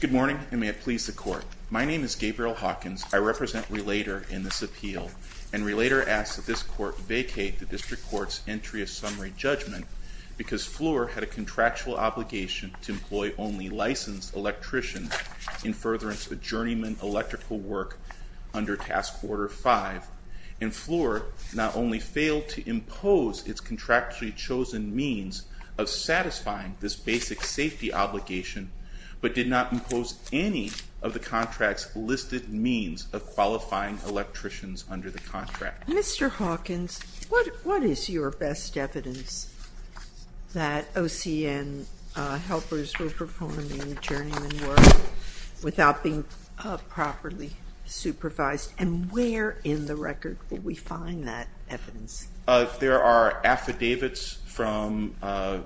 Good morning, and may it please the Court. My name is Gabriel Hawkins. I represent Relator in this appeal, and Relator asks that this Court vacate the District Court's entry of summary judgment because Fluor had a contractual obligation to employ only licensed electricians in furtherance of journeyman electrical work under Task Order 5, and Fluor not only failed to impose its contractually chosen means of satisfying this basic safety obligation, but did not impose any of the contract's listed means of qualifying electricians under the contract. Mr. Hawkins, what is your best evidence that OCN helpers were performing journeyman work without being properly supervised, and where in the record will we find that evidence? Mr. Hawkins There are affidavits from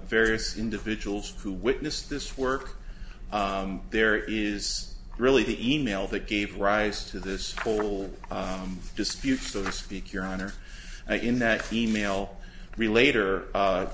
various individuals who witnessed this work. There is really the email that gave rise to this whole dispute, so to speak, Your Honor. In that email, Relator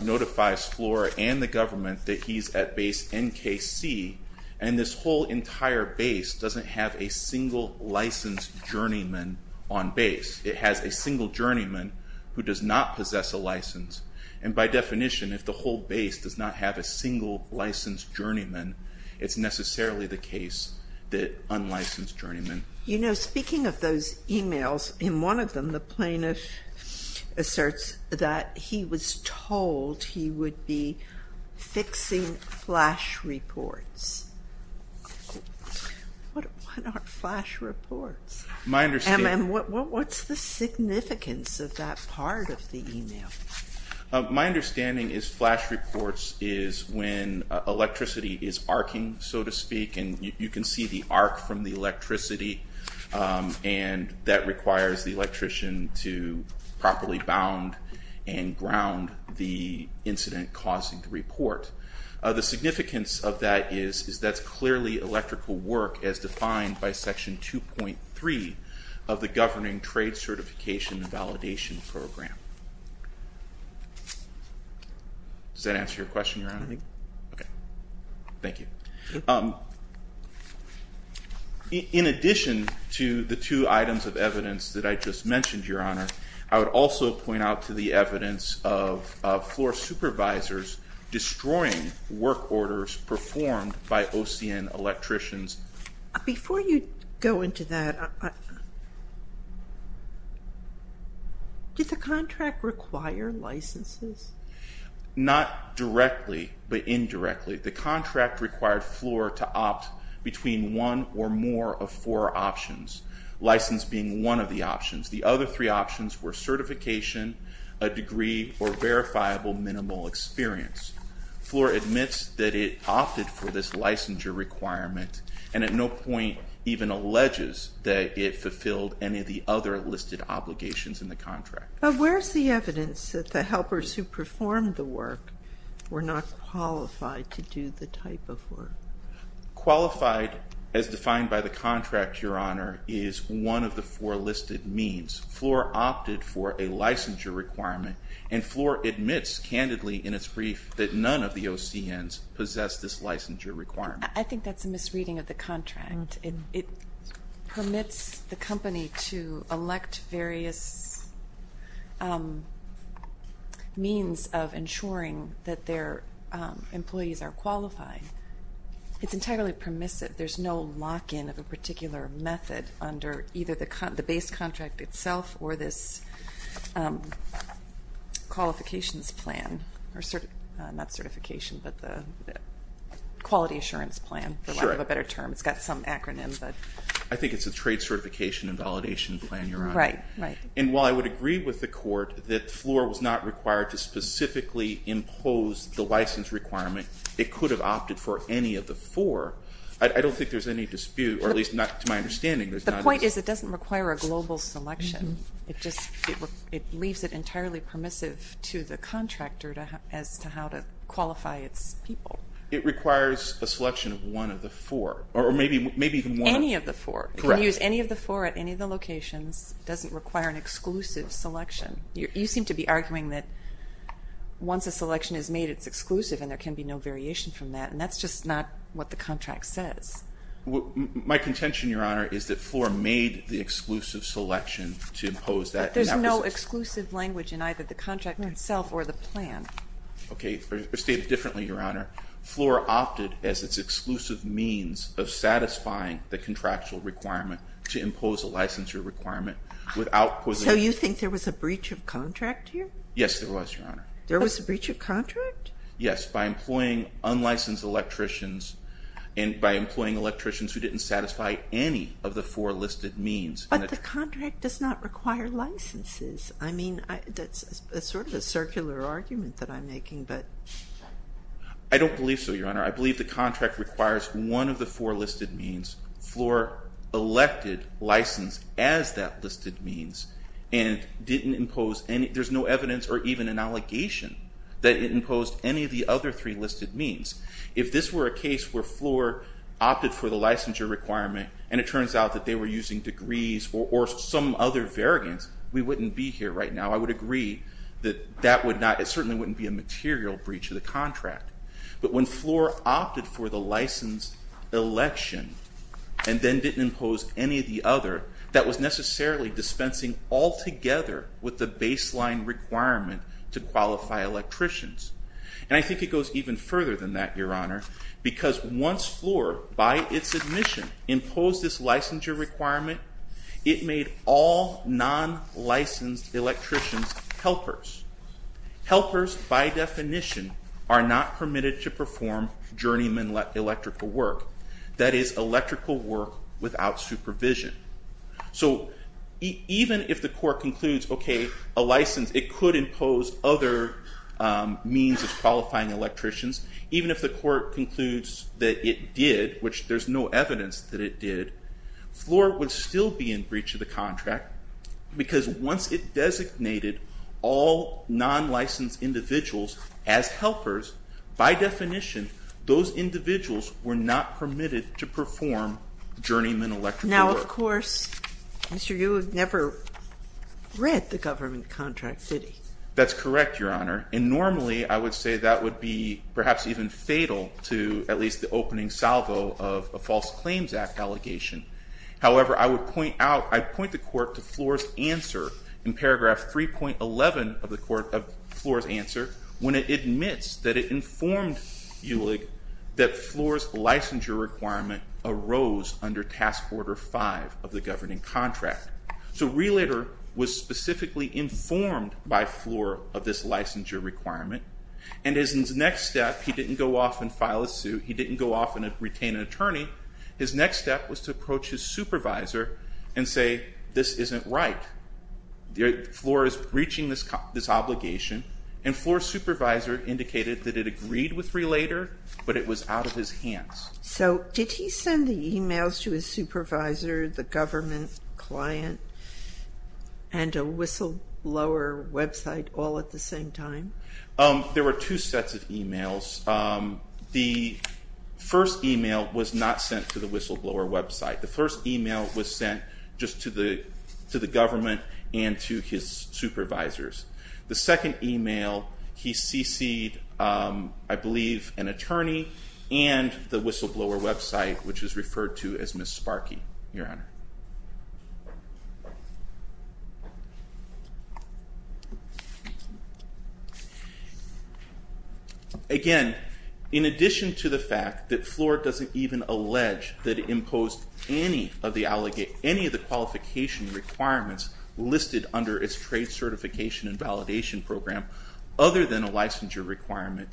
notifies Fluor and the government that he's at Base NKC, and this whole entire base doesn't have a single licensed journeyman on base. It has a single journeyman who does not possess a license, and by definition, if the whole base does not have a single licensed journeyman, it's necessarily the case that unlicensed journeymen. You know, speaking of those emails, in one of them, the plaintiff asserts that he was told he would be fixing flash reports. What are flash reports? And what's the significance of that part of the email? My understanding is flash reports is when electricity is arcing, so to speak, and you can see the arc from the electricity, and that requires the electrician to properly bound and ground the incident causing the report. The significance of that is that's clearly electrical work as defined by Section 2.3 of the Governing Trade Certification and Validation Program. Does that answer your question, Your Honor? Thank you. In addition to the two items of evidence that I just mentioned, Your Honor, I would also point out to the evidence of Fluor supervisors destroying work orders performed by OCN electricians. Before you go into that, did the contract require licenses? Not directly, but indirectly. The contract required Fluor to opt between one or more of four options, license being one of the options. The other three options were certification, a degree, or verifiable minimal experience. Fluor admits that it opted for this licensure requirement and at no point even alleges that it fulfilled any of the other listed obligations in the contract. But where's the evidence that the helpers who performed the work were not qualified to do the type of work? Qualified, as defined by the contract, Your Honor, is one of the four listed means. Fluor opted for a licensure requirement, and Fluor admits candidly in its brief that none of the OCNs possess this licensure requirement. I think that's a misreading of the contract. It permits the company to elect various means of ensuring that their employees are qualified. It's entirely permissive. There's no lock-in of a particular method under either the base contract itself or this qualifications plan, or not certification, but the quality assurance plan, for lack of a better term. It's got some acronym. I think it's a trade certification and validation plan, Your Honor. Right, right. And while I would agree with the court that Fluor was not required to specifically impose the license requirement, it could have opted for any of the four. I don't think there's any dispute, or at least not to my understanding. The point is it doesn't require a global selection. It just leaves it entirely permissive to the contractor as to how to qualify its people. It requires a selection of one of the four, or maybe even one of the four. Correct. You can use any of the four at any of the locations. It doesn't require an exclusive selection. You seem to be arguing that once a selection is made, it's exclusive and there can be no variation from that, and that's just not what the contract says. My contention, Your Honor, is that Fluor made the exclusive selection to impose that. But there's no exclusive language in either the contract itself or the plan. Okay. Stated differently, Your Honor, Fluor opted as its exclusive means of satisfying the contractual requirement to impose a licensure requirement. So you think there was a breach of contract here? Yes, there was, Your Honor. There was a breach of contract? Yes, by employing unlicensed electricians and by employing electricians who didn't satisfy any of the four listed means. But the contract does not require licenses. I mean, that's sort of a circular argument that I'm making. I don't believe so, Your Honor. I believe the contract requires one of the four listed means. Fluor elected license as that listed means and didn't impose any, there's no evidence or even an allegation that it imposed any of the other three listed means. If this were a case where Fluor opted for the licensure requirement and it turns out that they were using degrees or some other variance, we wouldn't be here right now. I would agree that that would not, it certainly wouldn't be a material breach of the contract. But when Fluor opted for the license election and then didn't impose any of the other, that was necessarily dispensing altogether with the baseline requirement to qualify electricians. And I think it goes even further than that, Your Honor, because once Fluor, by its admission, imposed this licensure requirement, it made all non-licensed electricians helpers. Helpers, by definition, are not permitted to perform journeyman electrical work, that is, electrical work without supervision. So even if the court concludes, okay, a license, it could impose other means of qualifying electricians, even if the court concludes that it did, which there's no evidence that it did, Fluor would still be in breach of the contract because once it designated all non-licensed individuals as helpers, by definition, those individuals were not permitted to perform journeyman electrical work. Now, of course, Mr. Eulig never read the government contract, did he? That's correct, Your Honor. And normally I would say that would be perhaps even fatal to at least the opening salvo of a False Claims Act allegation. However, I would point out, I'd point the court to Fluor's answer in paragraph 3.11 of the court, of Fluor's answer, when it admits that it informed Eulig that Fluor's licensure requirement arose under Task Order 5 of the governing contract. So Relator was specifically informed by Fluor of this licensure requirement, and his next step, he didn't go off and file a suit, he didn't go off and retain an attorney. His next step was to approach his supervisor and say, this isn't right. Fluor is breaching this obligation, and Fluor's supervisor indicated that it agreed with Relator, but it was out of his hands. So did he send the emails to his supervisor, the government client, and a whistleblower website all at the same time? There were two sets of emails. The first email was not sent to the whistleblower website. The first email was sent just to the government and to his supervisors. The second email, he cc'd, I believe, an attorney and the whistleblower website, which is referred to as Ms. Sparky, Your Honor. Again, in addition to the fact that Fluor doesn't even allege that it imposed any of the qualification requirements listed under its trade certification and validation program, other than a licensure requirement,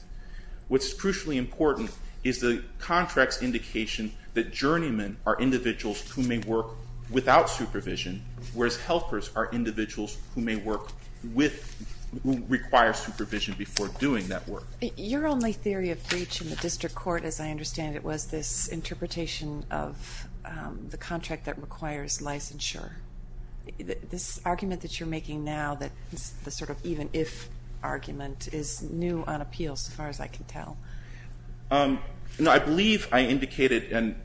what's crucially important is the contract's indication that journeymen are without supervision, whereas helpers are individuals who may work with, who require supervision before doing that work. Your only theory of breach in the district court, as I understand it, was this interpretation of the contract that requires licensure. This argument that you're making now, the sort of even-if argument, is new on appeal, as far as I can tell. No, I believe I indicated, and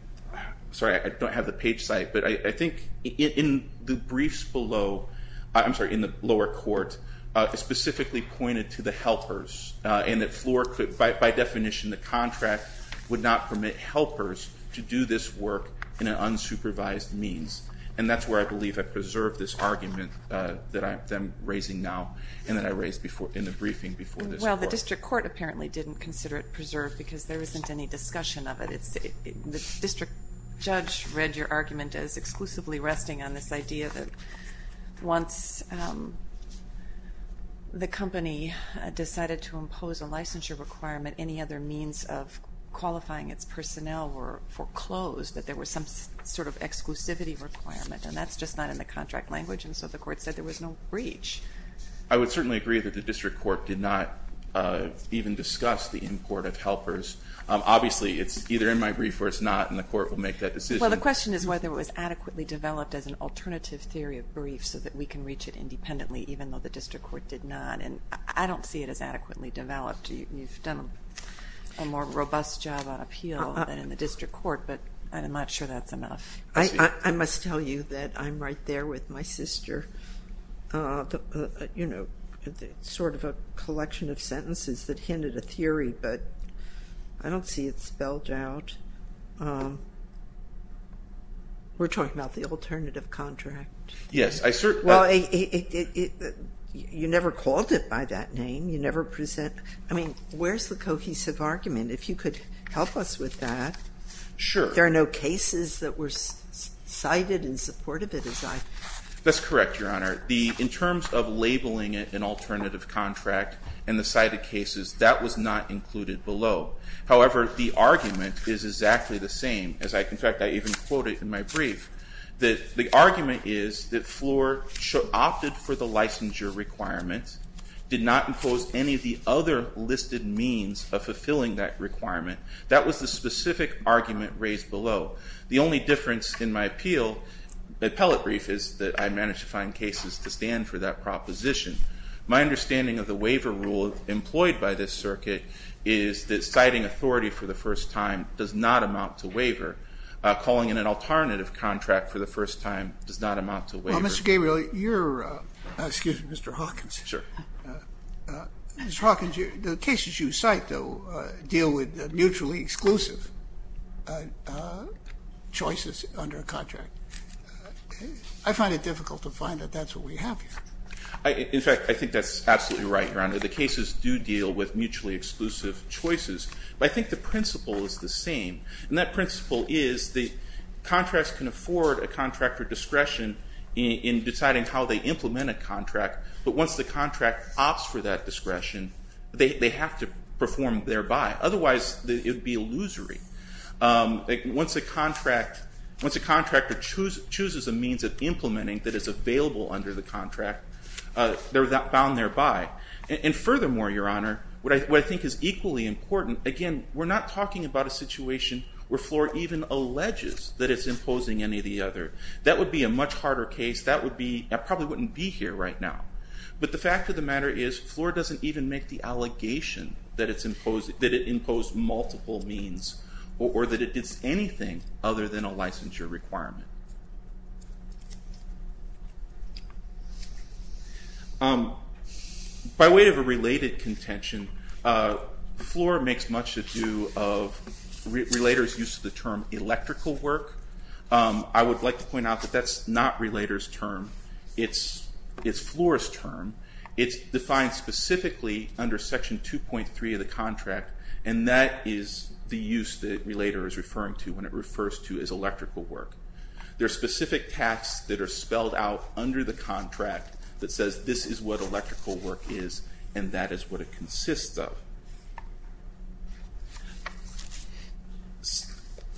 sorry, I don't have the page site, but I think in the briefs below, I'm sorry, in the lower court, it specifically pointed to the helpers and that Fluor, by definition, the contract would not permit helpers to do this work in an unsupervised means. And that's where I believe I preserved this argument that I'm raising now and that I raised in the briefing before this court. Well, the district court apparently didn't consider it preserved because there isn't any discussion of it. The district judge read your argument as exclusively resting on this idea that once the company decided to impose a licensure requirement, any other means of qualifying its personnel were foreclosed, that there was some sort of exclusivity requirement, and that's just not in the contract language, and so the court said there was no breach. I would certainly agree that the district court did not even discuss the import of helpers. Obviously, it's either in my brief or it's not, and the court will make that decision. Well, the question is whether it was adequately developed as an alternative theory of brief so that we can reach it independently, even though the district court did not, and I don't see it as adequately developed. You've done a more robust job on appeal than in the district court, but I'm not sure that's enough. I must tell you that I'm right there with my sister. You know, sort of a collection of sentences that hinted a theory, but I don't see it spelled out. We're talking about the alternative contract. Yes, I certainly – Well, you never called it by that name. You never present – I mean, where's the cohesive argument? If you could help us with that. Sure. But there are no cases that were cited in support of it, as I – That's correct, Your Honor. In terms of labeling it an alternative contract and the cited cases, that was not included below. However, the argument is exactly the same. In fact, I even quote it in my brief. The argument is that Floor opted for the licensure requirement, did not impose any of the other listed means of fulfilling that requirement. That was the specific argument raised below. The only difference in my appeal, the appellate brief, is that I managed to find cases to stand for that proposition. My understanding of the waiver rule employed by this circuit is that citing authority for the first time does not amount to waiver. Calling it an alternative contract for the first time does not amount to waiver. Well, Mr. Gabriel, you're – excuse me, Mr. Hawkins. Sure. Mr. Hawkins, the cases you cite, though, deal with mutually exclusive choices under a contract. I find it difficult to find that that's what we have here. In fact, I think that's absolutely right, Your Honor. The cases do deal with mutually exclusive choices. But I think the principle is the same. And that principle is the contracts can afford a contractor discretion in deciding how they implement a contract. But once the contract opts for that discretion, they have to perform thereby. Otherwise, it would be illusory. Once a contractor chooses a means of implementing that is available under the contract, they're bound thereby. And furthermore, Your Honor, what I think is equally important, again, we're not talking about a situation where FLOR even alleges that it's imposing any of the other. That would be a much harder case. That would be – it probably wouldn't be here right now. But the fact of the matter is FLOR doesn't even make the allegation that it's imposed – that it imposed multiple means or that it did anything other than a licensure requirement. By way of a related contention, FLOR makes much to do of relators' use of the term electrical work. I would like to point out that that's not relator's term. It's FLOR's term. It's defined specifically under Section 2.3 of the contract. And that is the use that relator is referring to when it refers to as electrical work. There are specific tasks that are spelled out under the contract that says this is what electrical work is and that is what it consists of.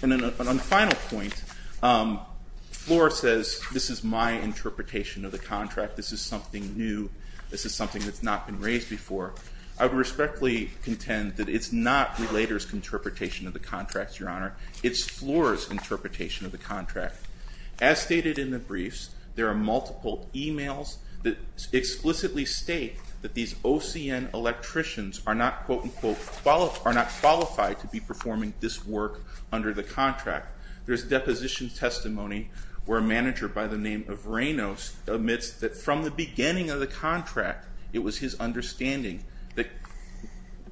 And on a final point, FLOR says this is my interpretation of the contract. This is something new. This is something that's not been raised before. I would respectfully contend that it's not relator's interpretation of the contract, Your Honor. As stated in the briefs, there are multiple emails that explicitly state that these OCN electricians are not, quote-unquote, are not qualified to be performing this work under the contract. There's deposition testimony where a manager by the name of Reynos admits that from the beginning of the contract, it was his understanding that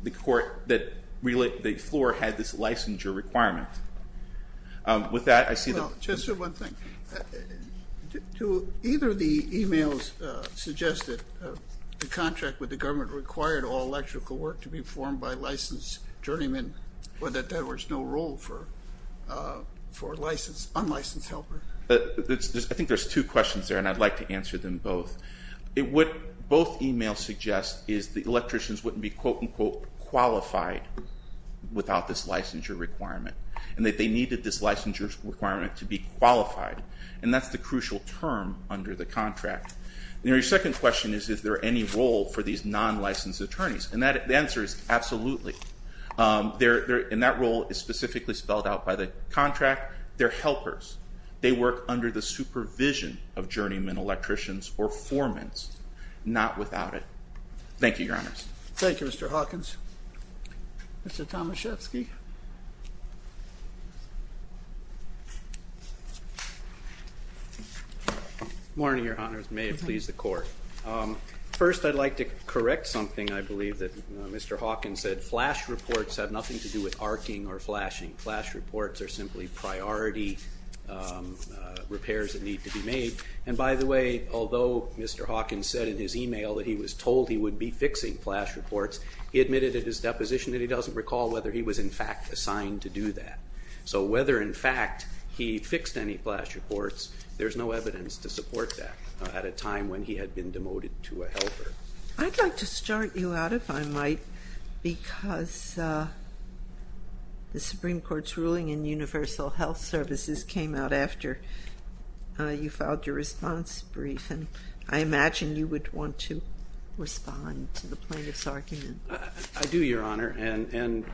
FLOR had this licensure requirement. With that, I see the... Just one thing. Do either of the emails suggest that the contract with the government required all electrical work to be formed by licensed journeymen, or that there was no role for a licensed, unlicensed helper? I think there's two questions there, and I'd like to answer them both. What both emails suggest is the electricians wouldn't be, quote-unquote, qualified without this licensure requirement, and that they needed this licensure requirement to be qualified. And that's the crucial term under the contract. Your second question is, is there any role for these non-licensed attorneys? And the answer is, absolutely. And that role is specifically spelled out by the contract. They're helpers. They work under the supervision of journeymen electricians or foremans, not without it. Thank you, Your Honors. Thank you, Mr. Hawkins. Mr. Tomaszewski. Good morning, Your Honors. May it please the Court. First, I'd like to correct something I believe that Mr. Hawkins said. Flash reports have nothing to do with arcing or flashing. Flash reports are simply priority repairs that need to be made. And, by the way, although Mr. Hawkins said in his email that he was told he would be fixing flash reports, he admitted at his deposition that he doesn't recall whether he was, in fact, assigned to do that. So whether, in fact, he fixed any flash reports, there's no evidence to support that at a time when he had been demoted to a helper. I'd like to start you out, if I might, because the Supreme Court's ruling in Universal Health Services came out after you filed your response brief, and I imagine you would want to respond to the plaintiff's argument. I do, Your Honor. And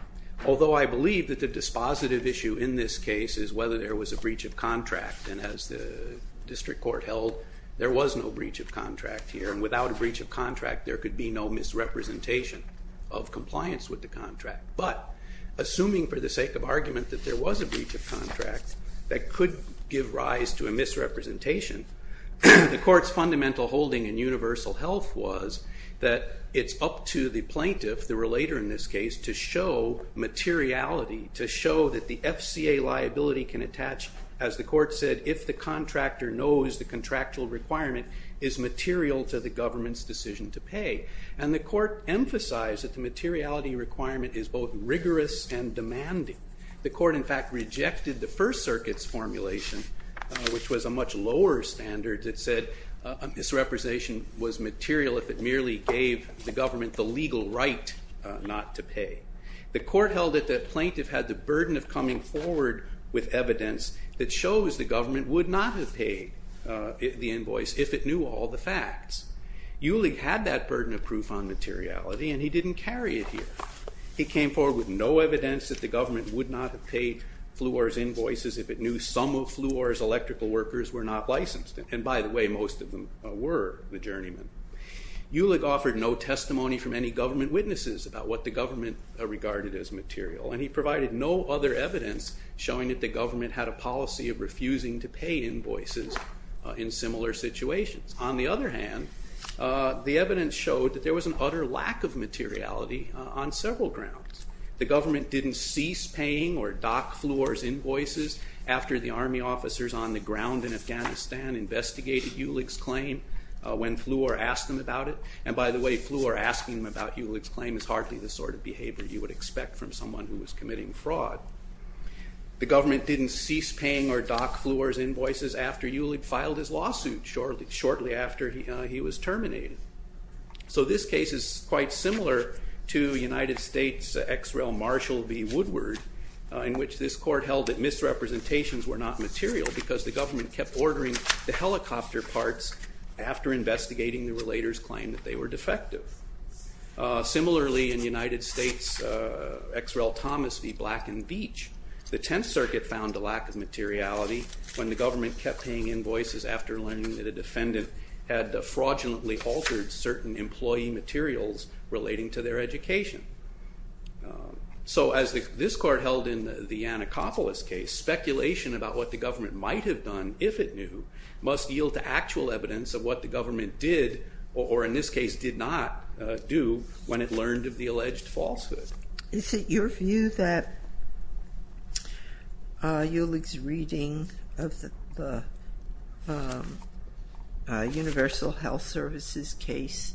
although I believe that the dispositive issue in this case is whether there was a breach of contract, and as the district court held, there was no breach of contract here. And without a breach of contract, there could be no misrepresentation of compliance with the contract. But, assuming for the sake of argument that there was a breach of contract that could give rise to a misrepresentation, the court's fundamental holding in Universal Health was that it's up to the plaintiff, the relator in this case, to show materiality, to show that the FCA liability can attach, as the court said, if the contractor knows the contractual requirement is material to the government's decision to pay. And the court emphasized that the materiality requirement is both rigorous and demanding. The court, in fact, rejected the First Circuit's formulation, which was a much lower standard, that said misrepresentation was material if it merely gave the government the legal right not to pay. The court held that the plaintiff had the burden of coming forward with evidence that shows the government would not have paid the invoice if it knew all the facts. Eulig had that burden of proof on materiality, and he didn't carry it here. He came forward with no evidence that the government would not have paid Fluor's invoices if it knew some of Fluor's electrical workers were not licensed. And by the way, most of them were the journeymen. Eulig offered no testimony from any government witnesses about what the government regarded as material, and he provided no other evidence showing that the government had a policy of refusing to pay invoices in similar situations. On the other hand, the evidence showed that there was an utter lack of materiality on several grounds. The government didn't cease paying or dock Fluor's invoices after the army officers on the ground in Afghanistan had investigated Eulig's claim when Fluor asked him about it. And by the way, Fluor asking him about Eulig's claim is hardly the sort of behavior you would expect from someone who was committing fraud. The government didn't cease paying or dock Fluor's invoices after Eulig filed his lawsuit shortly after he was terminated. So this case is quite similar to United States ex-rel Marshall v. Woodward, in which this court held that misrepresentations were not material because the government kept ordering the helicopter parts after investigating the relator's claim that they were defective. Similarly, in United States ex-rel Thomas v. Black and Beach, the Tenth Circuit found a lack of materiality when the government kept paying invoices after learning that a defendant had fraudulently altered certain employee materials relating to their education. So as this court held in the Anacopolis case, speculation about what the government might have done if it knew must yield to actual evidence of what the government did, or in this case did not do, when it learned of the alleged falsehood. Is it your view that Eulig's reading of the Universal Health Services case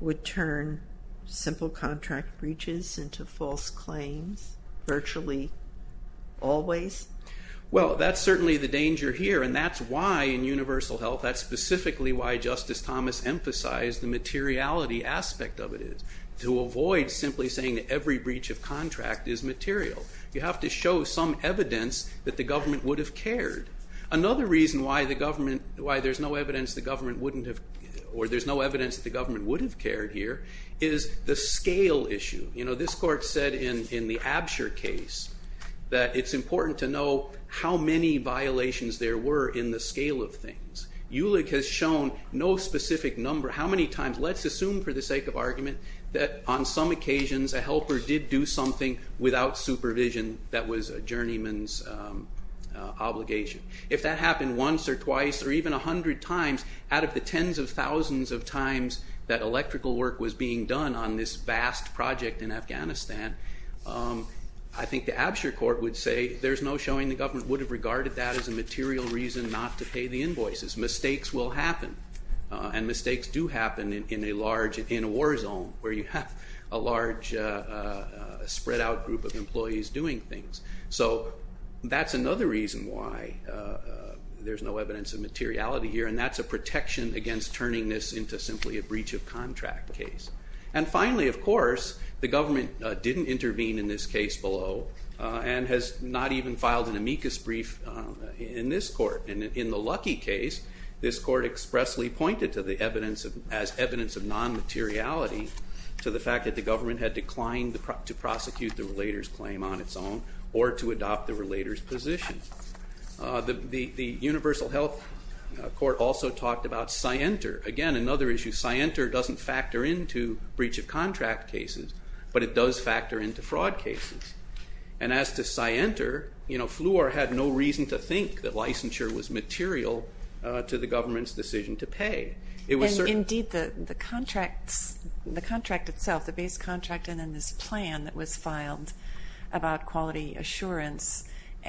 would turn simple contract breaches into false claims virtually always? Well, that's certainly the danger here, and that's why in Universal Health, that's specifically why Justice Thomas emphasized the materiality aspect of it, to avoid simply saying that every breach of contract is material. You have to show some evidence that the government would have cared. Another reason why there's no evidence that the government would have cared here is the scale issue. This court said in the Absher case that it's important to know how many violations there were in the scale of things. Eulig has shown no specific number, how many times, let's assume for the sake of argument, that on some occasions a helper did do something without supervision that was a journeyman's obligation. If that happened once or twice or even a hundred times, out of the tens of thousands of times that electrical work was being done on this vast project in Afghanistan, I think the Absher court would say there's no showing the government would have regarded that as a material reason not to pay the invoices. Mistakes will happen, and mistakes do happen in a large, in a war zone, where you have a large spread out group of employees doing things. So that's another reason why there's no evidence of materiality here, and that's a protection against turning this into simply a breach of contract case. And finally, of course, the government didn't intervene in this case below, and has not even filed an amicus brief in this court. And in the Lucky case, this court expressly pointed to the evidence as evidence of non-materiality to the fact that the government had declined to prosecute the relator's claim on its own or to adopt the relator's position. The Universal Health Court also talked about scienter. Again, another issue, scienter doesn't factor into breach of contract cases, but it does factor into fraud cases. And as to scienter, Fleur had no reason to think that licensure was material to the government's decision to pay. Indeed, the contract itself, the base contract and then this plan that was filed about quality assurance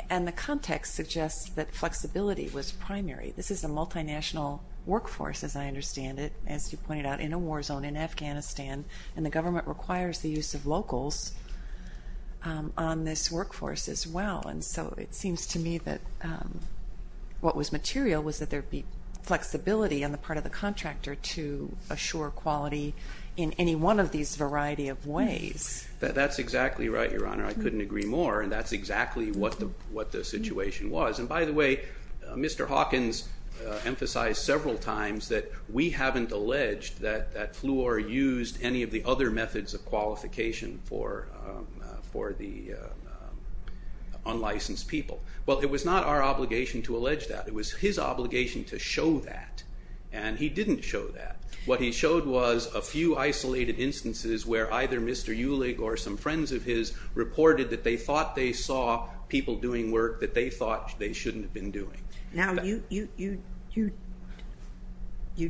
and the context suggests that flexibility was primary. This is a multinational workforce, as I understand it, as you pointed out, in a war zone in Afghanistan, and the government requires the use of locals on this workforce as well. And so it seems to me that what was material was that there be flexibility on the part of the contractor to assure quality in any one of these variety of ways. That's exactly right, Your Honor. I couldn't agree more, and that's exactly what the situation was. And by the way, Mr. Hawkins emphasized several times that we haven't alleged that Fleur used any of the other methods of qualification for the unlicensed people. Well, it was not our obligation to allege that. It was his obligation to show that, and he didn't show that. What he showed was a few isolated instances where either Mr. Eulig or some friends of his reported that they thought they saw people doing work that they thought they shouldn't have been doing. Now, you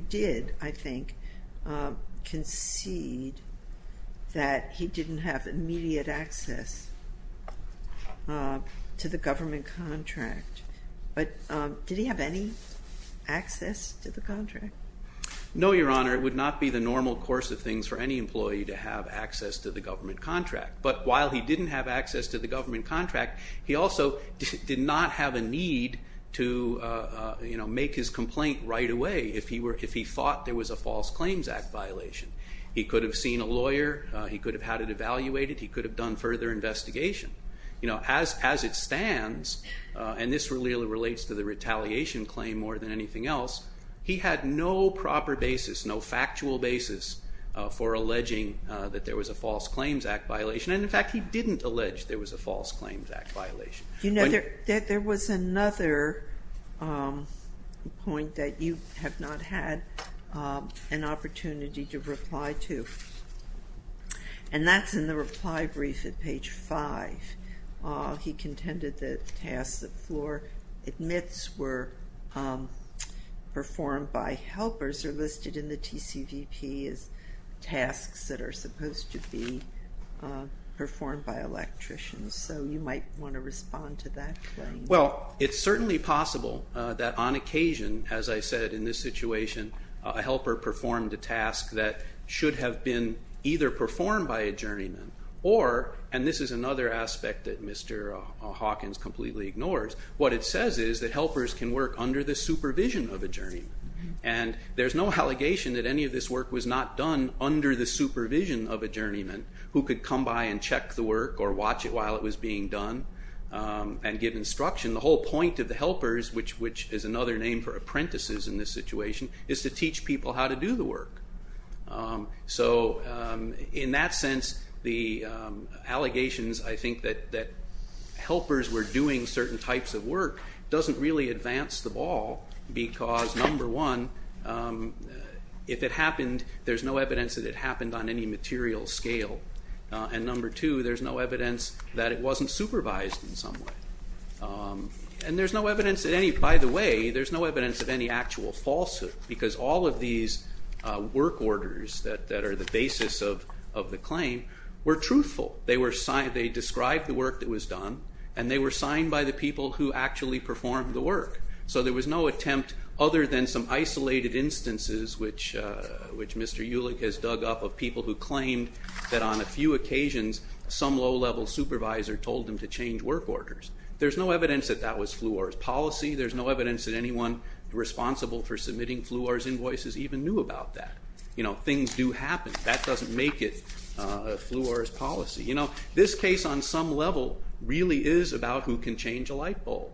did, I think, concede that he didn't have immediate access to the government contract, but did he have any access to the contract? No, Your Honor. It would not be the normal course of things for any employee to have access to the government contract, but while he didn't have access to the government contract, he also did not have a need to make his complaint right away if he thought there was a false claims act violation. He could have seen a lawyer. He could have had it evaluated. He could have done further investigation. As it stands, and this really relates to the retaliation claim more than anything else, he had no proper basis, no factual basis for alleging that there was a false claims act violation, and, in fact, he didn't allege there was a false claims act violation. There was another point that you have not had an opportunity to reply to, and that's in the reply brief at page 5. He contended that tasks that Floor admits were performed by helpers are listed in the TCVP as tasks that are supposed to be performed by electricians, so you might want to respond to that claim. Well, it's certainly possible that on occasion, as I said, in this situation, a helper performed a task that should have been either performed by a journeyman or, and this is another aspect that Mr. Hawkins completely ignores, what it says is that helpers can work under the supervision of a journeyman, and there's no allegation that any of this work was not done under the supervision of a journeyman who could come by and check the work or watch it while it was being done and give instruction. The whole point of the helpers, which is another name for apprentices in this situation, is to teach people how to do the work. So in that sense, the allegations, I think, that helpers were doing certain types of work doesn't really advance the ball because, number one, if it happened, there's no evidence that it happened on any material scale, and number two, there's no evidence that it wasn't supervised in some way. And there's no evidence that any, by the way, there's no evidence of any actual falsehood because all of these work orders that are the basis of the claim were truthful. They were signed, they described the work that was done, and they were signed by the people who actually performed the work. So there was no attempt other than some isolated instances, which Mr. Ulich has dug up, of people who claimed that on a few occasions some low-level supervisor told them to change work orders. There's no evidence that that was Fluor's policy. There's no evidence that anyone responsible for submitting Fluor's invoices even knew about that. Things do happen. That doesn't make it Fluor's policy. This case, on some level, really is about who can change a light bulb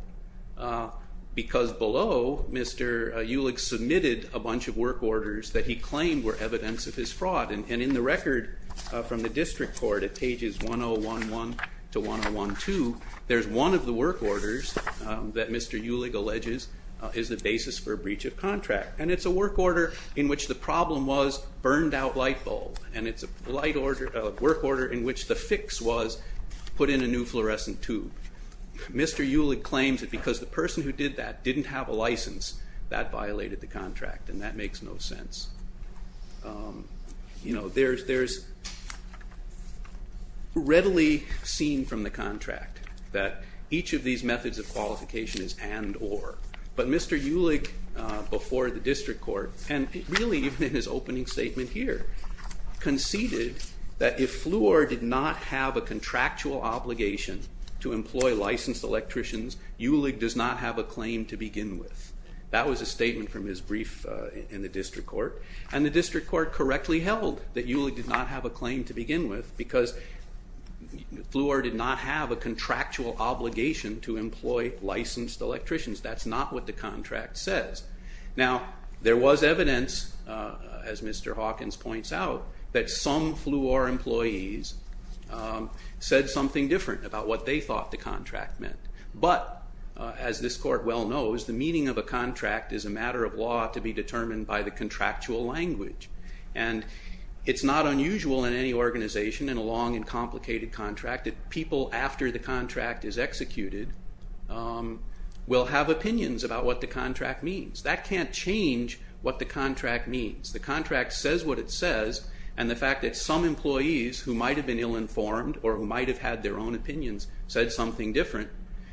because below, Mr. Ulich submitted a bunch of work orders that he claimed were evidence of his fraud, and in the record from the district court at pages 1011 to 1012, there's one of the work orders that Mr. Ulich alleges is the basis for a breach of contract, and it's a work order in which the problem was burned-out light bulb, and it's a work order in which the fix was put in a new fluorescent tube. Mr. Ulich claims that because the person who did that didn't have a license, that violated the contract, and that makes no sense. You know, there's readily seen from the contract that each of these methods of qualification is and-or, but Mr. Ulich, before the district court, and really even in his opening statement here, conceded that if Fluor did not have a contractual obligation to employ licensed electricians, Ulich does not have a claim to begin with. That was a statement from his brief in the district court, and the district court correctly held that Ulich did not have a claim to begin with because Fluor did not have a contractual obligation to employ licensed electricians. That's not what the contract says. Now, there was evidence, as Mr. Hawkins points out, that some Fluor employees said something different about what they thought the contract meant, but, as this court well knows, the meaning of a contract is a matter of law to be determined by the contractual language, and it's not unusual in any organization in a long and complicated contract that people after the contract is executed will have opinions about what the contract means. That can't change what the contract means. The contract says what it says, and the fact that some employees who might have been ill-informed or who might have had their own opinions said something different,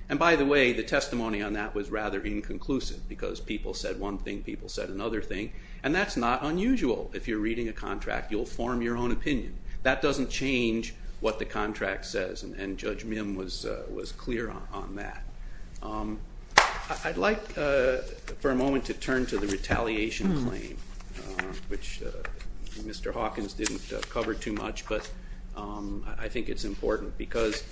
and, by the way, the testimony on that was rather inconclusive because people said one thing, people said another thing, and that's not unusual. If you're reading a contract, you'll form your own opinion. That doesn't change what the contract says, and Judge Mim was clear on that. I'd like for a moment to turn to the retaliation claim, which Mr. Hawkins didn't cover too much, but I think it's important because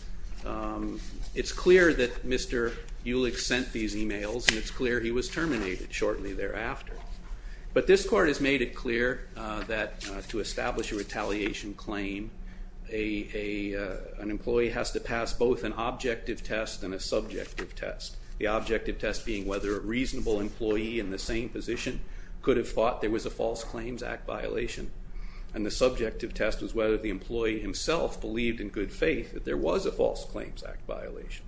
it's clear that Mr. Ulick sent these emails, and it's clear he was terminated shortly thereafter. But this court has made it clear that to establish a retaliation claim, an employee has to pass both an objective test and a subjective test, the objective test being whether a reasonable employee in the same position could have thought there was a False Claims Act violation, and the subjective test was whether the employee himself believed in good faith that there was a False Claims Act violation.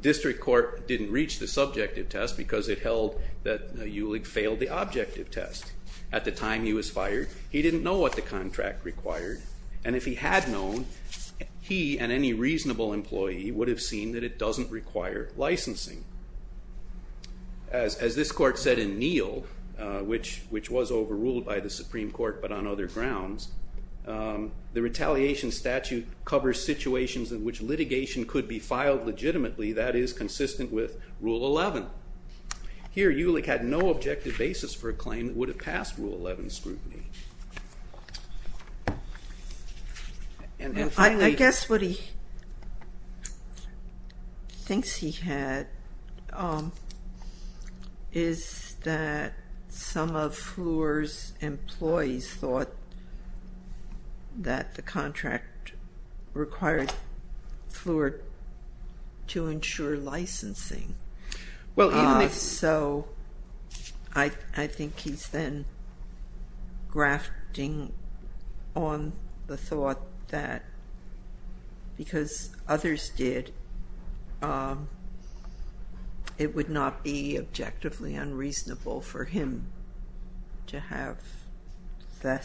District Court didn't reach the subjective test because it held that Ulick failed the objective test. At the time he was fired, he didn't know what the contract required, and if he had known, he and any reasonable employee would have seen that it doesn't require licensing. As this court said in Neill, which was overruled by the Supreme Court but on other grounds, the retaliation statute covers situations in which litigation could be filed legitimately that is consistent with Rule 11. Here Ulick had no objective basis for a claim that would have passed Rule 11 scrutiny. And finally... I guess what he thinks he had is that some of Fluor's employees thought that the contract required Fluor to ensure licensing. So I think he's then grafting on the thought that because others did, it would not be objectively unreasonable for him to have the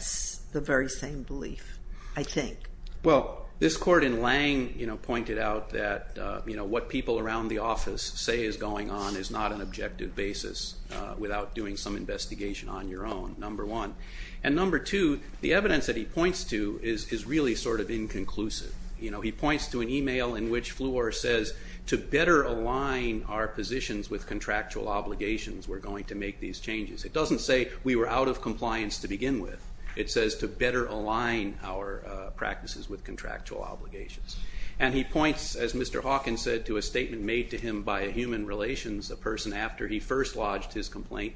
very same belief, I think. Well, this court in Lange pointed out that what people around the office said is going on is not an objective basis without doing some investigation on your own. Number one. And number two, the evidence that he points to is really sort of inconclusive. He points to an email in which Fluor says, to better align our positions with contractual obligations, we're going to make these changes. It doesn't say we were out of compliance to begin with. It says to better align our practices with contractual obligations. And he points, as Mr. Hawkins said, to a statement made to him by Human Relations, a person after he first lodged his complaint.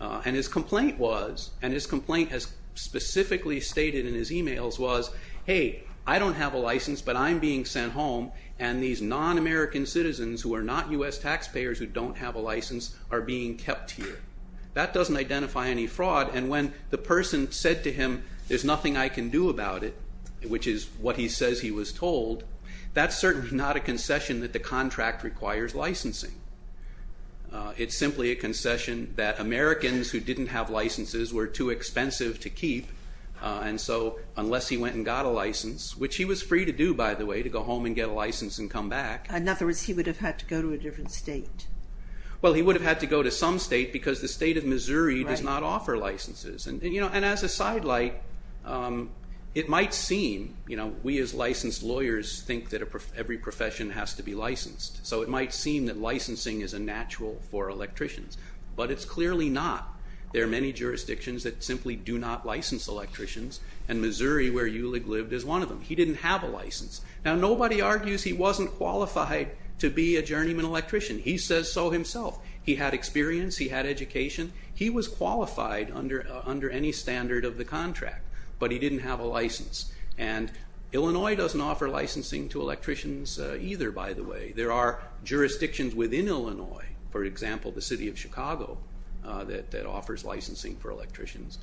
And his complaint was, and his complaint has specifically stated in his emails, was, hey, I don't have a license, but I'm being sent home, and these non-American citizens who are not U.S. taxpayers who don't have a license are being kept here. That doesn't identify any fraud. And when the person said to him, there's nothing I can do about it, which is what he says he was told, that's certainly not a concession that the contract requires licensing. It's simply a concession that Americans who didn't have licenses were too expensive to keep, and so unless he went and got a license, which he was free to do, by the way, to go home and get a license and come back. In other words, he would have had to go to a different state. Well, he would have had to go to some state because the state of Missouri does not offer licenses. And as a sidelight, it might seem, you know, we as licensed lawyers think that every profession has to be licensed, so it might seem that licensing is a natural for electricians, but it's clearly not. There are many jurisdictions that simply do not license electricians, and Missouri, where Ulig lived, is one of them. He didn't have a license. Now, nobody argues he wasn't qualified to be a journeyman electrician. He says so himself. He had experience. He had education. He was qualified under any standard of the contract, but he didn't have a license. And Illinois doesn't offer licensing to electricians either, by the way. There are jurisdictions within Illinois, for example, the city of Chicago, that offers licensing for electricians.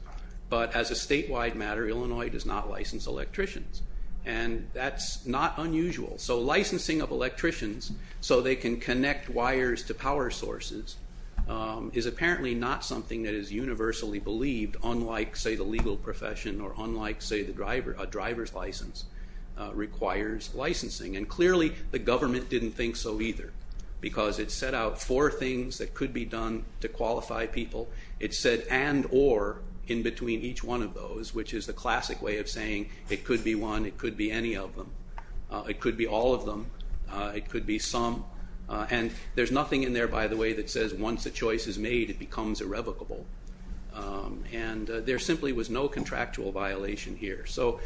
But as a statewide matter, Illinois does not license electricians, and that's not unusual. So licensing of electricians so they can connect wires to power sources is apparently not something that is universally believed, unlike, say, the legal profession or unlike, say, a driver's license requires licensing. And clearly the government didn't think so either because it set out four things that could be done to qualify people. It said and, or in between each one of those, which is the classic way of saying it could be one, it could be any of them. It could be all of them. It could be some. And there's nothing in there, by the way, that says once a choice is made, it becomes irrevocable. And there simply was no contractual violation here. So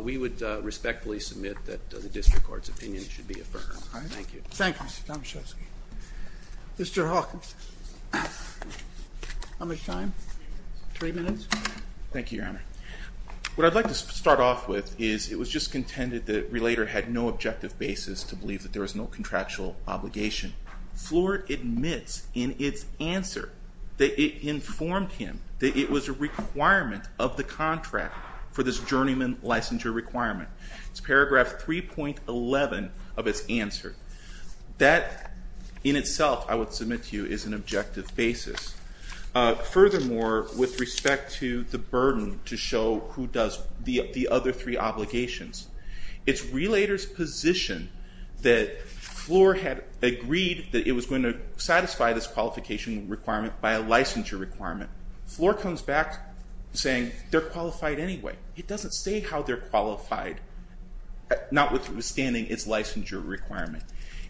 we would respectfully submit that the district court's opinion should be affirmed. Thank you. Thank you, Mr. Tomaszewski. Mr. Hawkins. How much time? Three minutes? Thank you, Your Honor. What I'd like to start off with is it was just contended that Relator had no objective basis to believe that there was no contractual obligation. Floor admits in its answer that it informed him that it was a requirement of the contract for this journeyman licensure requirement. It's paragraph 3.11 of its answer. That in itself, I would submit to you, is an objective basis. Furthermore, with respect to the burden to show who does the other three obligations, it's Relator's position that Floor had agreed that it was going to satisfy this qualification requirement by a licensure requirement. Floor comes back saying they're qualified anyway. It doesn't say how they're qualified, notwithstanding its licensure requirement.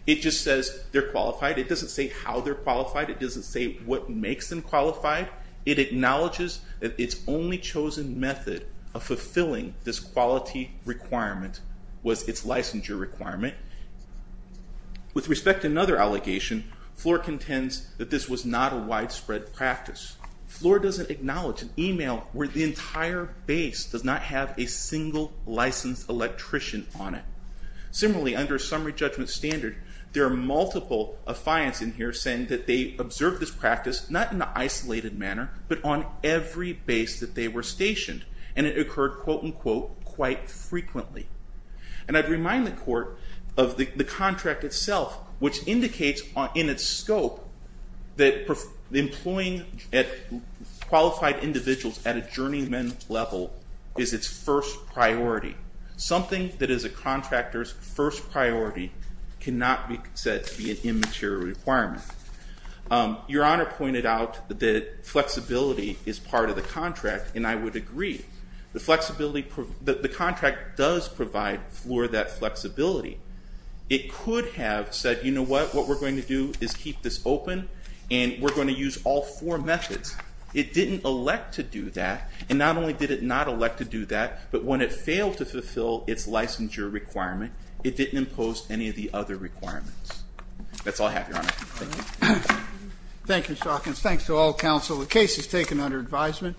It just says they're qualified. It doesn't say how they're qualified. It doesn't say what makes them qualified. It acknowledges that its only chosen method of fulfilling this quality requirement was its licensure requirement. With respect to another allegation, Floor contends that this was not a widespread practice. Floor doesn't acknowledge an email where the entire base does not have a single licensed electrician on it. Similarly, under a summary judgment standard, there are multiple affiants in here saying that they observed this practice not in an isolated manner, but on every base that they were stationed. And it occurred, quote, unquote, quite frequently. And I'd remind the Court of the contract itself, which indicates in its scope that employing qualified individuals at a journeyman level is its first priority. Something that is a contractor's first priority cannot be said to be an immaterial requirement. Your Honor pointed out that flexibility is part of the contract, and I would agree. The contract does provide Floor that flexibility. It could have said, you know what, what we're going to do is keep this open, and we're going to use all four methods. It didn't elect to do that, and not only did it not elect to do that, but when it failed to fulfill its licensure requirement, it didn't impose any of the other requirements. That's all I have, Your Honor. Thank you. Thank you, Shalkins. Thanks to all counsel. The case is taken under advisement.